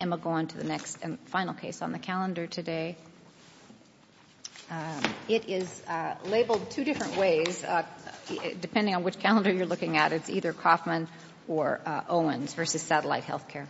And we'll go on to the next and final case on the calendar today. It is labeled two different ways. Depending on which calendar you're looking at, it's either Kauffman or Owens v. Satellite Healthcare.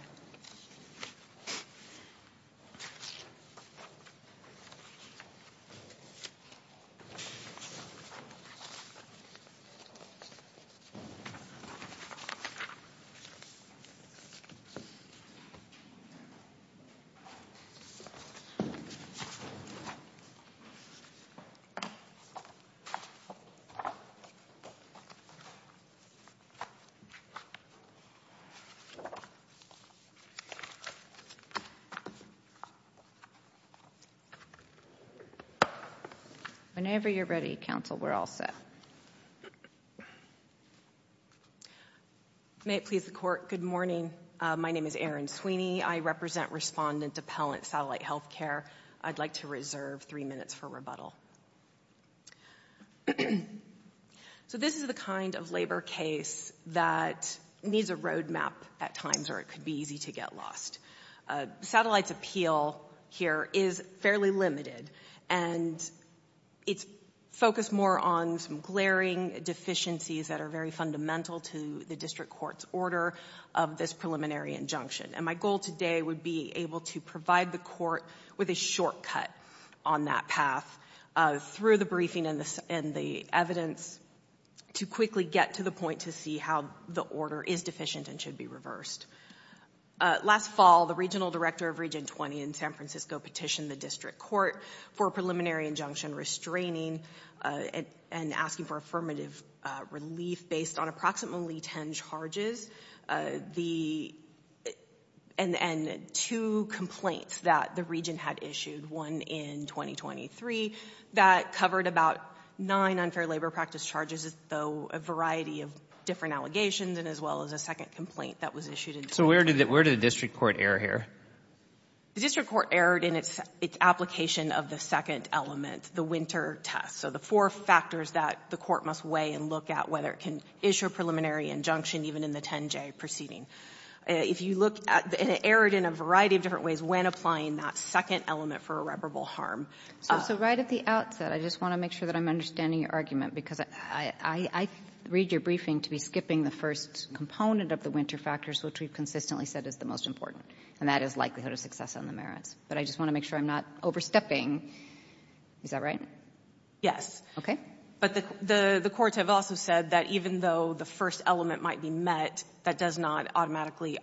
Whenever you're ready, counsel, we're all set. May it please the court, good morning. My name is Erin Sweeney. I represent Respondent Depellent Satellite Healthcare. I'd like to reserve three minutes for rebuttal. So this is the kind of labor case that needs a roadmap at times, or it could be easy to get lost. Satellite's appeal here is fairly limited, and it's focused more on some glaring deficiencies that are very fundamental to the district court's order of this preliminary injunction. And my goal today would be able to provide the court with a shortcut on that path through the briefing and the evidence to quickly get to the point to see how the order is deficient and should be reversed. Last fall, the regional director of Region 20 in San Francisco petitioned the district court for a preliminary injunction restraining and asking for affirmative relief based on approximately ten charges and two complaints that the region had issued, one in 2023 that covered about nine unfair labor practice charges, though a variety of different allegations, and as well as a second complaint that was issued in 2023. So where did the district court err here? The district court erred in its application of the second element, the winter test. So the four factors that the court must weigh and look at, whether it can issue a preliminary injunction even in the 10J proceeding. If you look at it, it erred in a variety of different ways when applying that second element for irreparable harm. So right at the outset, I just want to make sure that I'm understanding your argument, because I read your briefing to be skipping the first component of the winter factors, which we've consistently said is the most important, and that is likelihood of success on the merits. But I just want to make sure I'm not overstepping. Is that right? Yes. Okay. But the courts have also said that even though the first element might be met, that does not automatically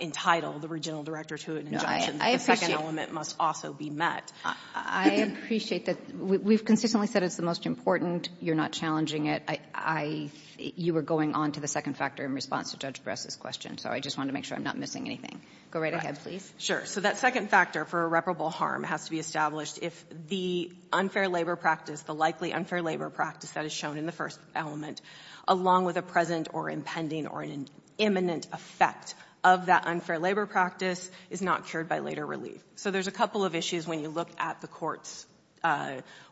entitle the regional director to an injunction. The second element must also be met. I appreciate that. We've consistently said it's the most important. You're not challenging it. I — you were going on to the second factor in response to Judge Bress's question, so I just wanted to make sure I'm not missing anything. Go right ahead, please. Sure. So that second factor for irreparable harm has to be established if the unfair labor practice, the likely unfair labor practice that is shown in the first element, along with a present or impending or an imminent effect of that unfair labor practice is not cured by later relief. So there's a couple of issues when you look at the court's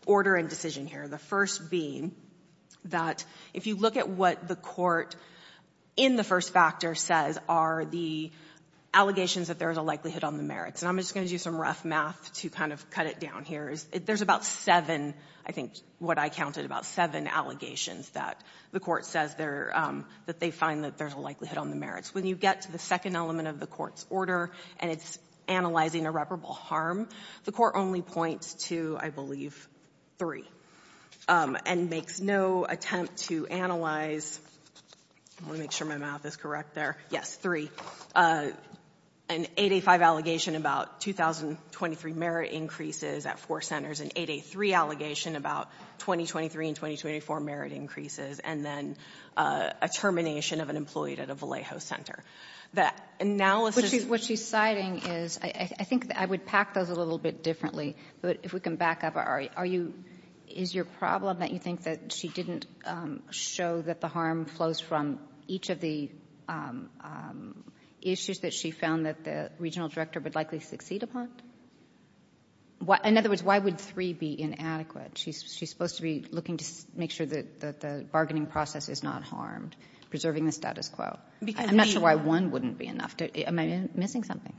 order and decision here, the first being that if you look at what the court in the first factor says are the allegations that there is a likelihood on the merits. And I'm just going to do some rough math to kind of cut it down here. There's about seven, I think what I counted, about seven allegations that the court says that they find that there's a likelihood on the merits. When you get to the second element of the court's order and it's analyzing irreparable harm, the court only points to, I believe, three, and makes no attempt to analyze — I want to make sure my math is correct there — yes, three, an 8A5 allegation about 2023 merit increases at four centers, an 8A3 allegation about 2023 and 2024 merit increases, and then a termination of an employee at a Vallejo center. That analysis — What she's citing is — I think I would pack those a little bit differently, but if we can back up, are you — is your problem that you think that she didn't show that the harm flows from each of the issues that she found that the regional director would likely succeed upon? In other words, why would three be inadequate? She's supposed to be looking to make sure that the bargaining process is not harmed, preserving the status quo. I'm not sure why one wouldn't be enough. Am I missing something?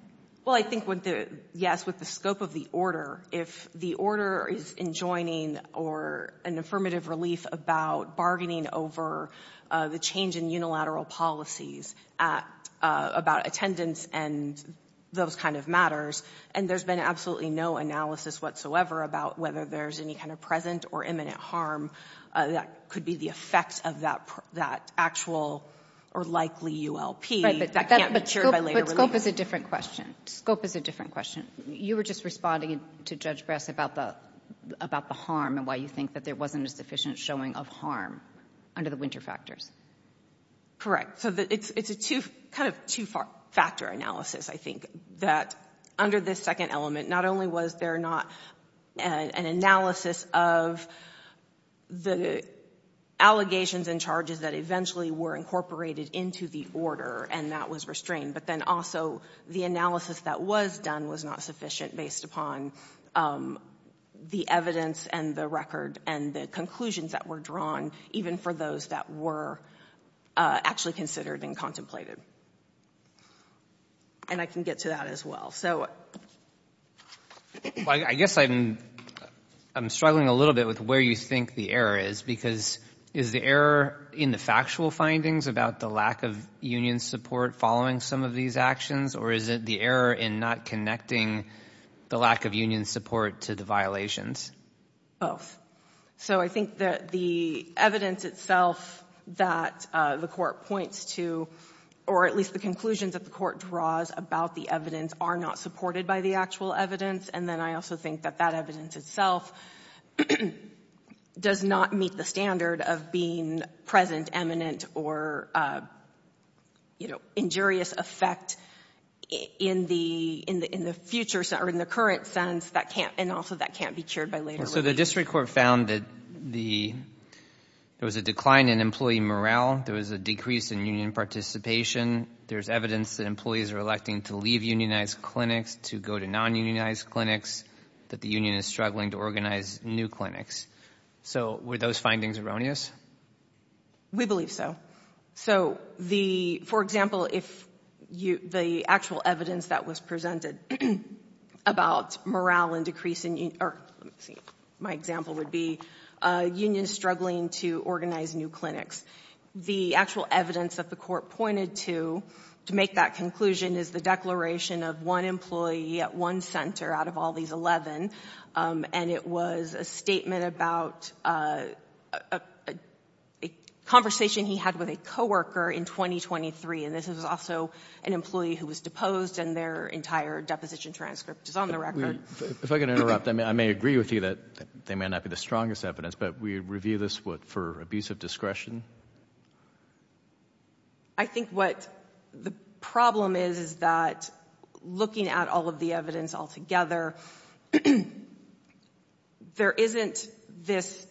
Well, I think with the — yes, with the scope of the order, if the order is enjoining or an affirmative relief about bargaining over the change in unilateral policies at — about attendance and those kind of matters, and there's been absolutely no analysis whatsoever about whether there's any kind of present or imminent harm that could be the effect of that actual or likely ULP, that can't be cured by later relief. But scope is a different question. Scope is a different question. You were just responding to Judge Bress about the harm and why you think that there wasn't a sufficient showing of harm under the winter factors. Correct. So it's a two — kind of two-factor analysis, I think, that under this second element. Not only was there not an analysis of the allegations and charges that eventually were incorporated into the order and that was restrained, but then also the analysis that was done was not sufficient based upon the evidence and the record and the conclusions that were drawn, even for those that were actually considered and contemplated. And I can get to that as well. So — Well, I guess I'm — I'm struggling a little bit with where you think the error is, because is the error in the factual findings about the lack of union support following some of these actions, or is it the error in not connecting the lack of union support to the violations? Both. So I think that the evidence itself that the court points to, or at least the conclusions that the court draws about the evidence, are not supported by the actual evidence. And then I also think that that evidence itself does not meet the standard of being present, eminent, or injurious effect in the — in the future — or in the current sense that can't — and also that can't be cured by later review. So the district court found that the — there was a decline in employee morale. There was a decrease in union participation. There's evidence that employees are electing to leave unionized clinics, to go to non-unionized clinics, that the union is struggling to organize new clinics. So were those findings erroneous? We believe so. So the — for example, if you — the actual evidence that was presented about morale and decrease in — or, let me see, my example would be union struggling to organize new clinics. The actual evidence that the court pointed to to make that conclusion is the declaration of one employee at one center out of all these 11, and it was a statement about a conversation he had with a coworker in 2023. And this was also an employee who was deposed, and their entire deposition transcript is on the record. If I can interrupt, I may agree with you that they may not be the strongest evidence, but we review this, what, for abusive discretion? I think what the problem is, is that looking at all of the evidence altogether, there isn't this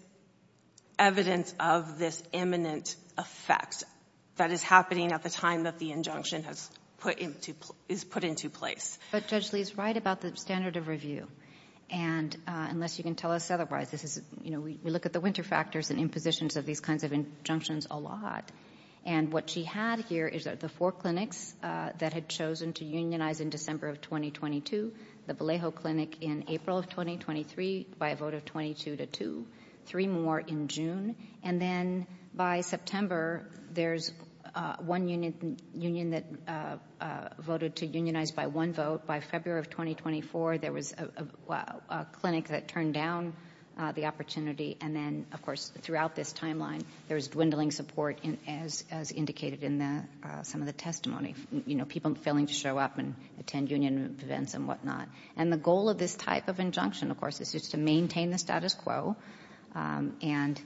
evidence of this imminent effect that is happening at the time that the injunction has put into — is put into place. But Judge Lee is right about the standard of review. And unless you can tell us otherwise, this is — you know, we look at the winter factors and impositions of these kinds of injunctions a lot. And what she had here is that the four clinics that had chosen to unionize in December of 2022, the Vallejo Clinic in April of 2023 by a vote of 22-2, three more in June, and then by September, there's one union that voted to unionize by one vote. By February of 2024, there was a clinic that turned down the opportunity. And then, of course, throughout this timeline, there was dwindling support, as indicated in some of the testimony, you know, people failing to show up and attend union events and whatnot. And the goal of this type of injunction, of course, is just to maintain the status quo. And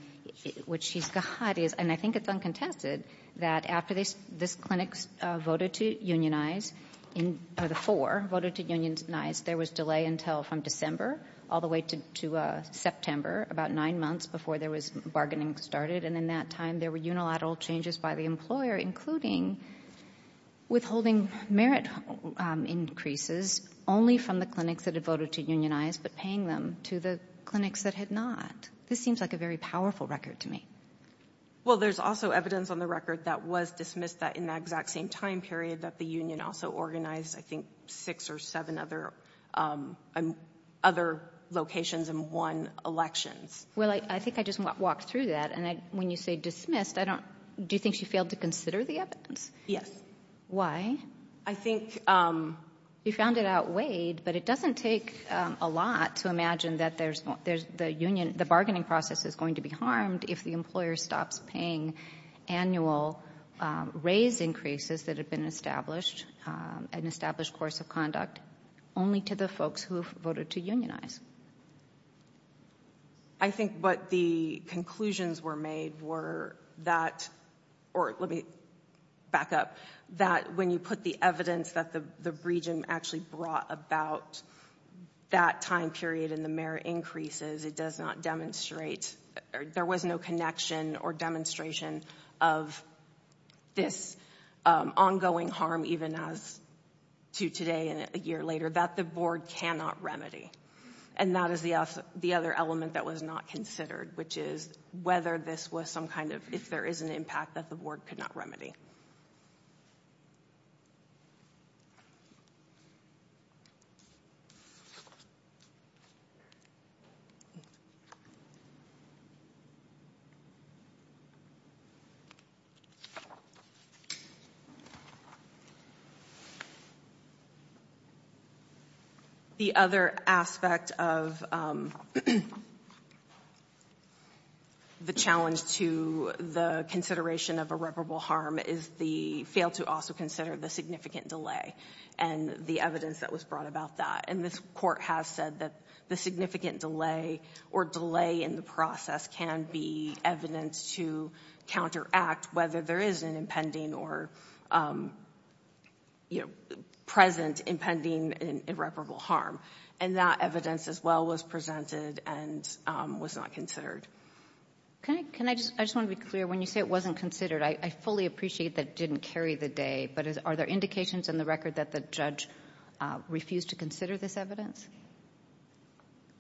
what she's got is — and I think it's uncontested that after this clinic voted to unionize — or the four voted to unionize, there was delay until from December all the way to September, about nine months before there was bargaining started. And in that time, there were unilateral changes by the employer, including withholding merit increases only from the clinics that had voted to unionize, but paying them to the clinics that had not. This seems like a very powerful record to me. Well, there's also evidence on the record that was dismissed in that exact same time period that the union also organized, I think, six or seven other locations and won elections. Well, I think I just want to walk through that. And when you say dismissed, I don't — do you think she failed to consider the evidence? Yes. Why? I think — You found it outweighed, but it doesn't take a lot to imagine that there's — the union — the bargaining process is going to be harmed if the employer stops paying annual raise increases that have been established, an established course of conduct, only to the folks who voted to unionize. I think what the conclusions were made were that — or let me back up — that when you put the evidence that the region actually brought about that time period and the merit increases, it does not demonstrate — there was no connection or demonstration of this ongoing harm, even as to today and a year later, that the board cannot remedy. And that is the other element that was not considered, which is whether this was some kind of — if there is an impact that the board could not remedy. Okay. The other aspect of the challenge to the consideration of irreparable harm is the fail to also consider the significant delay and the evidence that was brought about that. And this Court has said that the significant delay or delay in the process can be evidence to counteract whether there is an impending or, you know, present impending irreparable harm. And that evidence, as well, was presented and was not considered. Can I just — I just want to be clear. When you say it wasn't considered, I fully appreciate that it didn't carry the day. But are there indications in the record that the judge refused to consider this evidence?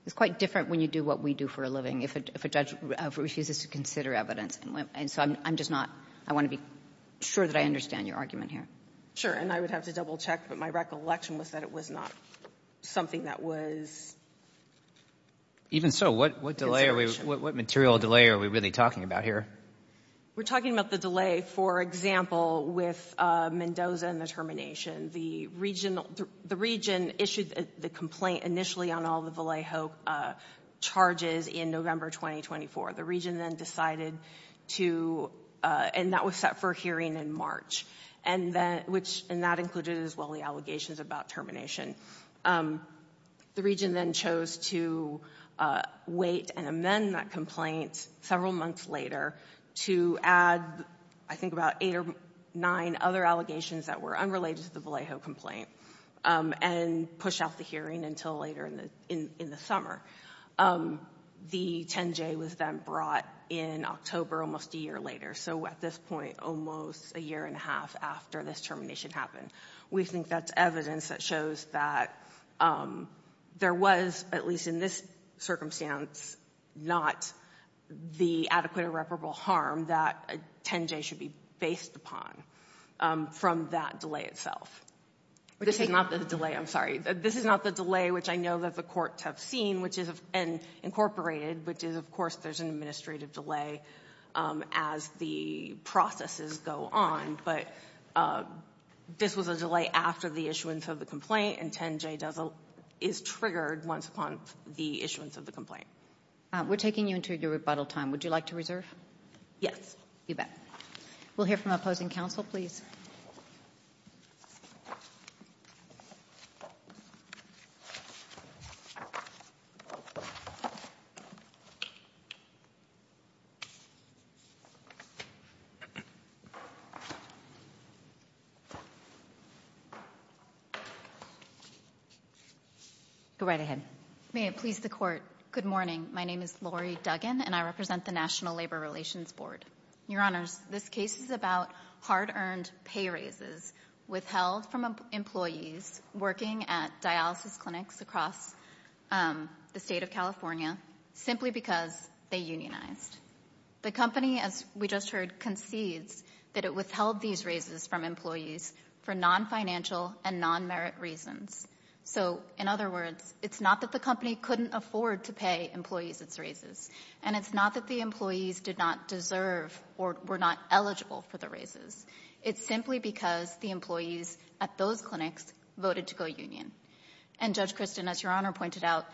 It's quite different when you do what we do for a living, if a judge refuses to consider evidence. And so I'm just not — I want to be sure that I understand your argument here. Sure. And I would have to double-check, but my recollection was that it was not something that was — Even so, what material delay are we really talking about here? We're talking about the delay, for example, with Mendoza and the termination. The region issued the complaint initially on all the Vallejo charges in November 2024. The region then decided to — and that was set for a hearing in March. And that included, as well, the allegations about termination. The region then chose to wait and amend that complaint several months later to add, I think, about eight or nine other allegations that were unrelated to the Vallejo complaint and push out the hearing until later in the summer. The 10-J was then brought in October, almost a year later. So at this point, almost a year and a half after this termination happened. We think that's evidence that shows that there was, at least in this circumstance, not the adequate irreparable harm that a 10-J should be based upon from that delay itself. This is not the delay — I'm sorry. This is not the delay, which I know that the courts have seen, which is — and incorporated, which is, of course, there's an administrative delay as the processes go on. But this was a delay after the issuance of the complaint, and 10-J is triggered once upon the issuance of the complaint. We're taking you into your rebuttal time. Would you like to reserve? Yes. You bet. We'll hear from opposing counsel, please. Go right ahead. May it please the Court, good morning. My name is Lori Duggan, and I represent the National Labor Relations Board. Your Honors, this case is about hard-earned pay raises withheld from employees working at dialysis clinics across the state of California simply because they unionized. The company, as we just heard, concedes that it withheld these raises from employees for non-financial and non-merit reasons. So, in other words, it's not that the company couldn't afford to pay employees its raises, and it's not that the employees did not deserve or were not eligible for the raises. It's simply because the employees at those clinics voted to go union. And Judge Christin, as Your Honor pointed out,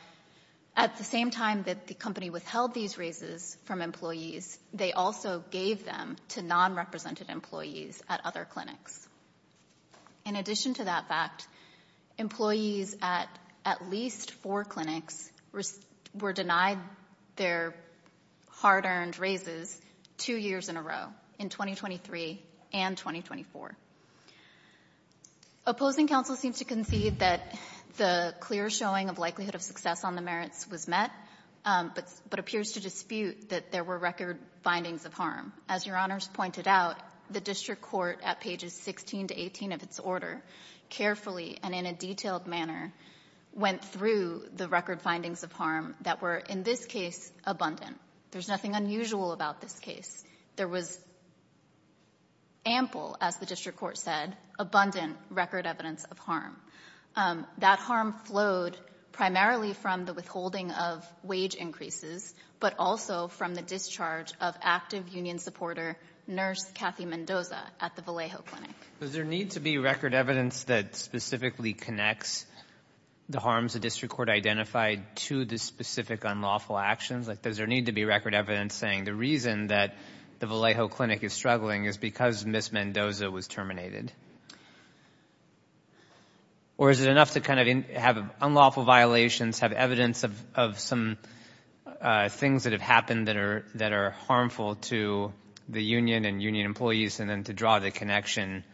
at the same time that the company withheld these raises from employees, they also gave them to non-represented employees at other clinics. In addition to that fact, employees at at least four clinics were denied their hard-earned raises two years in a row, in 2023 and 2024. Opposing counsel seems to concede that the clear showing of likelihood of success on the merits was met, but appears to dispute that there were record findings of harm. As Your Honors pointed out, the district court at pages 16 to 18 of its order carefully and in a detailed manner went through the record findings of harm that were, in this case, abundant. There's nothing unusual about this case. There was ample, as the district court said, abundant record evidence of harm. That harm flowed primarily from the withholding of wage increases, but also from the discharge of active union supporter nurse Kathy Mendoza at the Vallejo Clinic. Does there need to be record evidence that specifically connects the harms the district court identified to the specific unlawful actions? Does there need to be record evidence saying the reason that the Vallejo Clinic is struggling is because Ms. Mendoza was terminated? Or is it enough to kind of have unlawful violations, have evidence of some things that have happened that are harmful to the union and union employees, and then to draw the connection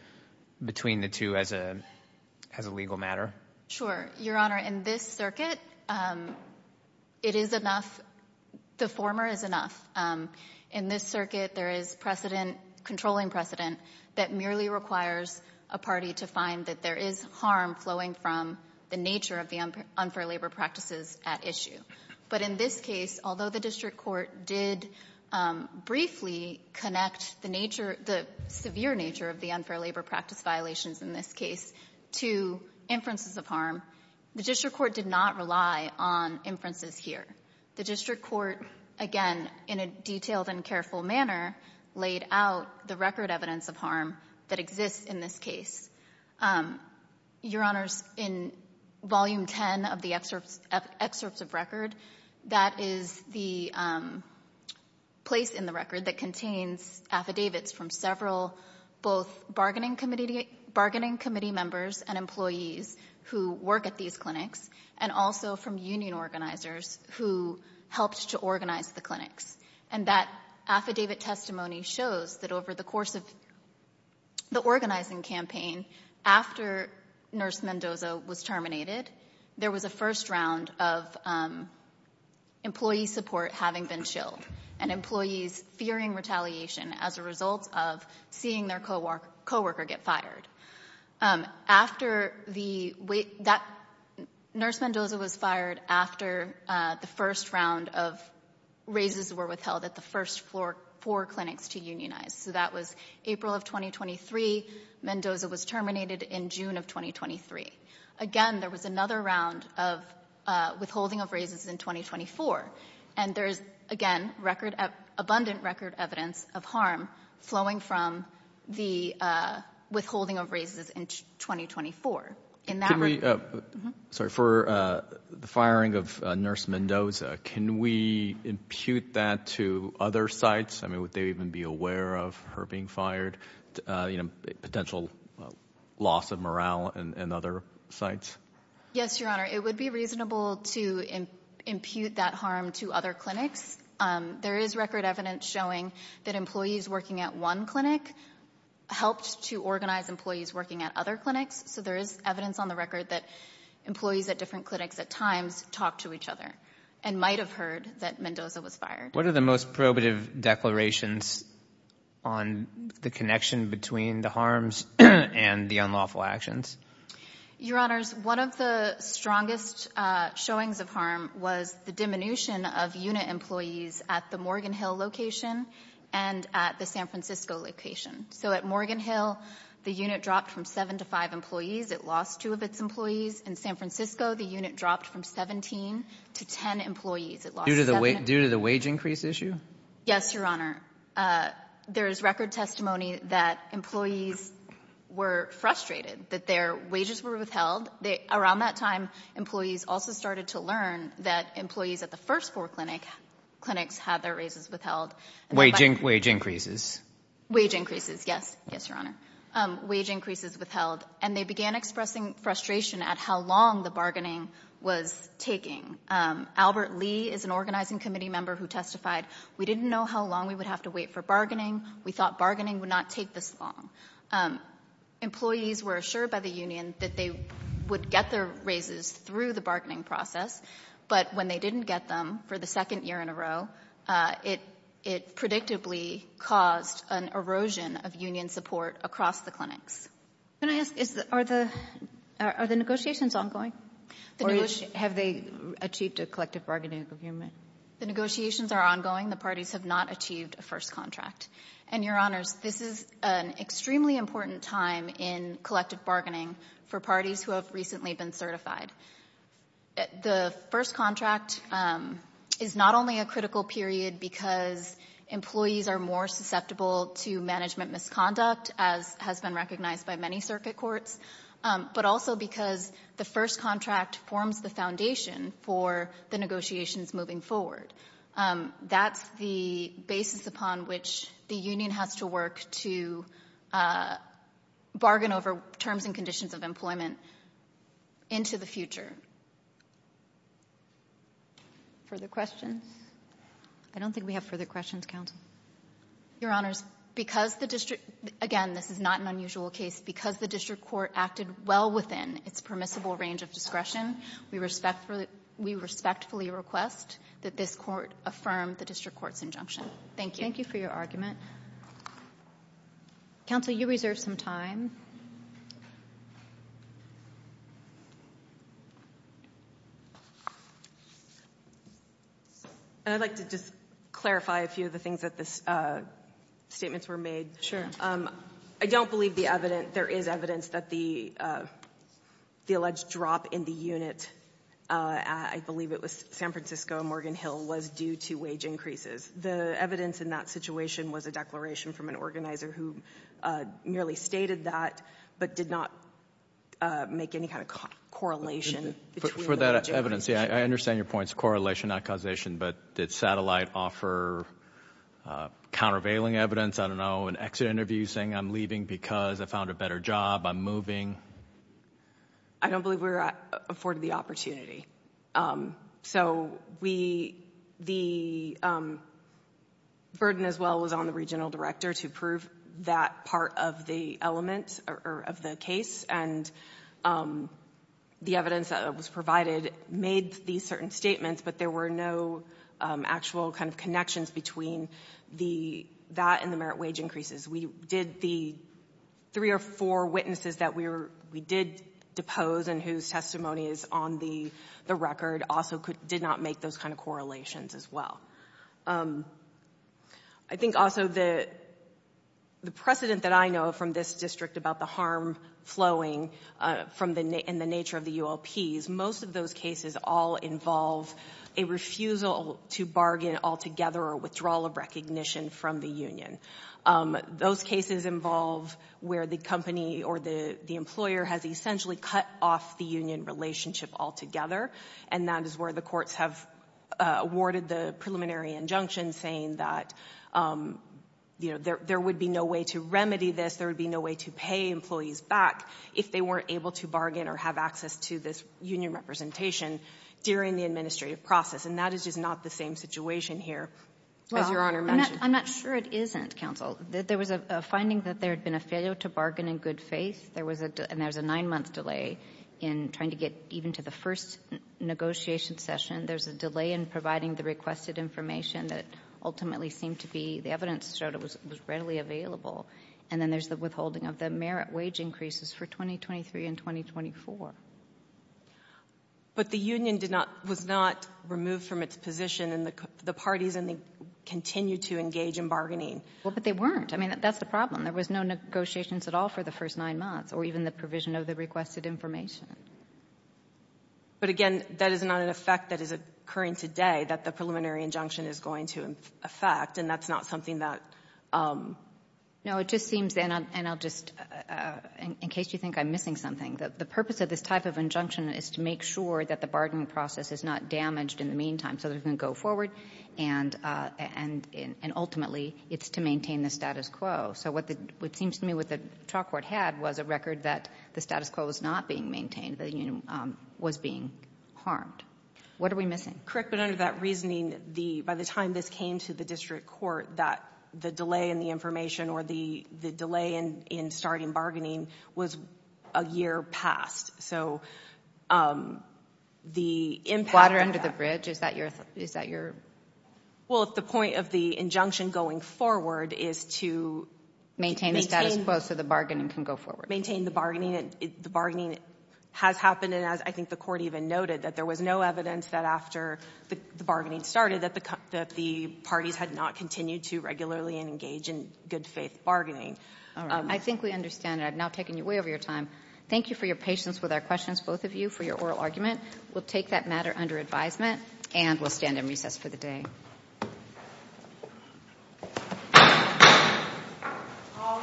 between the two as a legal matter? Sure. Your Honor, in this circuit, it is enough. The former is enough. In this circuit, there is precedent, controlling precedent, that merely requires a party to find that there is harm flowing from the nature of the unfair labor practices at issue. But in this case, although the district court did briefly connect the nature, the severe nature of the unfair labor practice violations in this case to inferences of harm, the district court did not rely on inferences here. The district court, again, in a detailed and careful manner, laid out the record evidence of harm that exists in this case. Your Honors, in Volume 10 of the excerpts of record, that is the place in the record that contains affidavits from several, both bargaining committee members and employees who work at these clinics, and also from union organizers who helped to organize the clinics. And that affidavit testimony shows that over the course of the organizing campaign, after Nurse Mendoza was terminated, there was a first round of employee support having been shilled. And employees fearing retaliation as a result of seeing their coworker get fired. After the wait, Nurse Mendoza was fired after the first round of raises were withheld at the first four clinics to unionize. So that was April of 2023. Mendoza was terminated in June of 2023. Again, there was another round of withholding of raises in 2024. And there is, again, abundant record evidence of harm flowing from the withholding of raises in 2024. In that regard... Sorry, for the firing of Nurse Mendoza, can we impute that to other sites? I mean, would they even be aware of her being fired? You know, potential loss of morale in other sites? Yes, Your Honor. It would be reasonable to impute that harm to other clinics. There is record evidence showing that employees working at one clinic helped to organize employees working at other clinics. So there is evidence on the record that employees at different clinics at times talked to each other and might have heard that Mendoza was fired. What are the most probative declarations on the connection between the harms and the unlawful actions? Your Honors, one of the strongest showings of harm was the diminution of unit employees at the Morgan Hill location and at the San Francisco location. So at Morgan Hill, the unit dropped from seven to five employees. It lost two of its employees. In San Francisco, the unit dropped from 17 to 10 employees. It lost seven. Due to the wage increase issue? Yes, Your Honor. There is record testimony that employees were frustrated that their wages were withheld. Around that time, employees also started to learn that employees at the first four clinics had their raises withheld. Wage increases? Wage increases, yes. Yes, Your Honor. Wage increases withheld. And they began expressing frustration at how long the bargaining was taking. Albert Lee is an organizing committee member who testified, we didn't know how long we would have to wait for bargaining. We thought bargaining would not take this long. Employees were assured by the union that they would get their raises through the bargaining process, but when they didn't get them for the second year in a row, it predictably caused an erosion of union support across the clinics. Can I ask, are the negotiations ongoing? Or have they achieved a collective bargaining agreement? The negotiations are ongoing. The parties have not achieved a first contract. And, Your Honors, this is an extremely important time in collective bargaining for parties who have recently been certified. The first contract is not only a critical period because employees are more susceptible to management misconduct, as has been recognized by many circuit courts, but also because the first contract forms the foundation for the negotiations moving forward. That's the basis upon which the union has to work to bargain over terms and conditions of employment into the future. Further questions? I don't think we have further questions, Counsel. Your Honors, because the district, again, this is not an unusual case, because the district court acted well within its permissible range of discretion, we respectfully request that this court affirm the district court's injunction. Thank you. Thank you for your argument. Counsel, you reserve some time. I'd like to just clarify a few of the things that the statements were made. Sure. I don't believe there is evidence that the alleged drop in the unit, I believe it was San Francisco and Morgan Hill, was due to wage increases. The evidence in that situation was a declaration from an organizer who merely stated that, but did not make any kind of correlation. For that evidence, yeah, I understand your points. Correlation, not causation. But did Satellite offer countervailing evidence? I don't know, an exit interview saying I'm leaving because I found a better job, I'm moving? I don't believe we were afforded the opportunity. So the burden as well was on the regional director to prove that part of the element or of the case, and the evidence that was provided made these certain statements, but there were no actual kind of connections between that and the merit wage increases. The three or four witnesses that we did depose and whose testimony is on the record also did not make those kind of correlations as well. I think also the precedent that I know from this district about the harm flowing in the nature of the ULPs, most of those cases all involve a refusal to bargain altogether or withdrawal of recognition from the union. Those cases involve where the company or the employer has essentially cut off the union relationship altogether, and that is where the courts have awarded the preliminary injunction saying that, you know, there would be no way to remedy this, there would be no way to pay employees back if they weren't able to bargain or have access to this union representation during the administrative process. And that is just not the same situation here, as Your Honor mentioned. Well, I'm not sure it isn't, counsel. There was a finding that there had been a failure to bargain in good faith, and there was a nine-month delay in trying to get even to the first negotiation session. There's a delay in providing the requested information that ultimately seemed to be The evidence showed it was readily available. And then there's the withholding of the merit wage increases for 2023 and 2024. But the union did not — was not removed from its position, and the parties continued to engage in bargaining. Well, but they weren't. I mean, that's the problem. There was no negotiations at all for the first nine months or even the provision of the requested information. But again, that is not an effect that is occurring today that the preliminary injunction is going to affect. And that's not something that — No, it just seems — and I'll just — in case you think I'm missing something, the purpose of this type of injunction is to make sure that the bargaining process is not damaged in the meantime so that it can go forward. And ultimately, it's to maintain the status quo. So what seems to me what the trial court had was a record that the status quo was not being maintained, that the union was being harmed. What are we missing? Correct. But under that reasoning, by the time this came to the district court, that the delay in the information or the delay in starting bargaining was a year past. So the impact — Water under the bridge? Is that your — Well, if the point of the injunction going forward is to — Maintain the status quo so the bargaining can go forward. Maintain the bargaining. The bargaining has happened. And as I think the court even noted, that there was no evidence that after the bargaining started that the parties had not continued to regularly engage in good-faith bargaining. All right. I think we understand. I've now taken you way over your time. Thank you for your patience with our questions, both of you, for your oral argument. We'll take that matter under advisement, and we'll stand in recess for the day. All rise.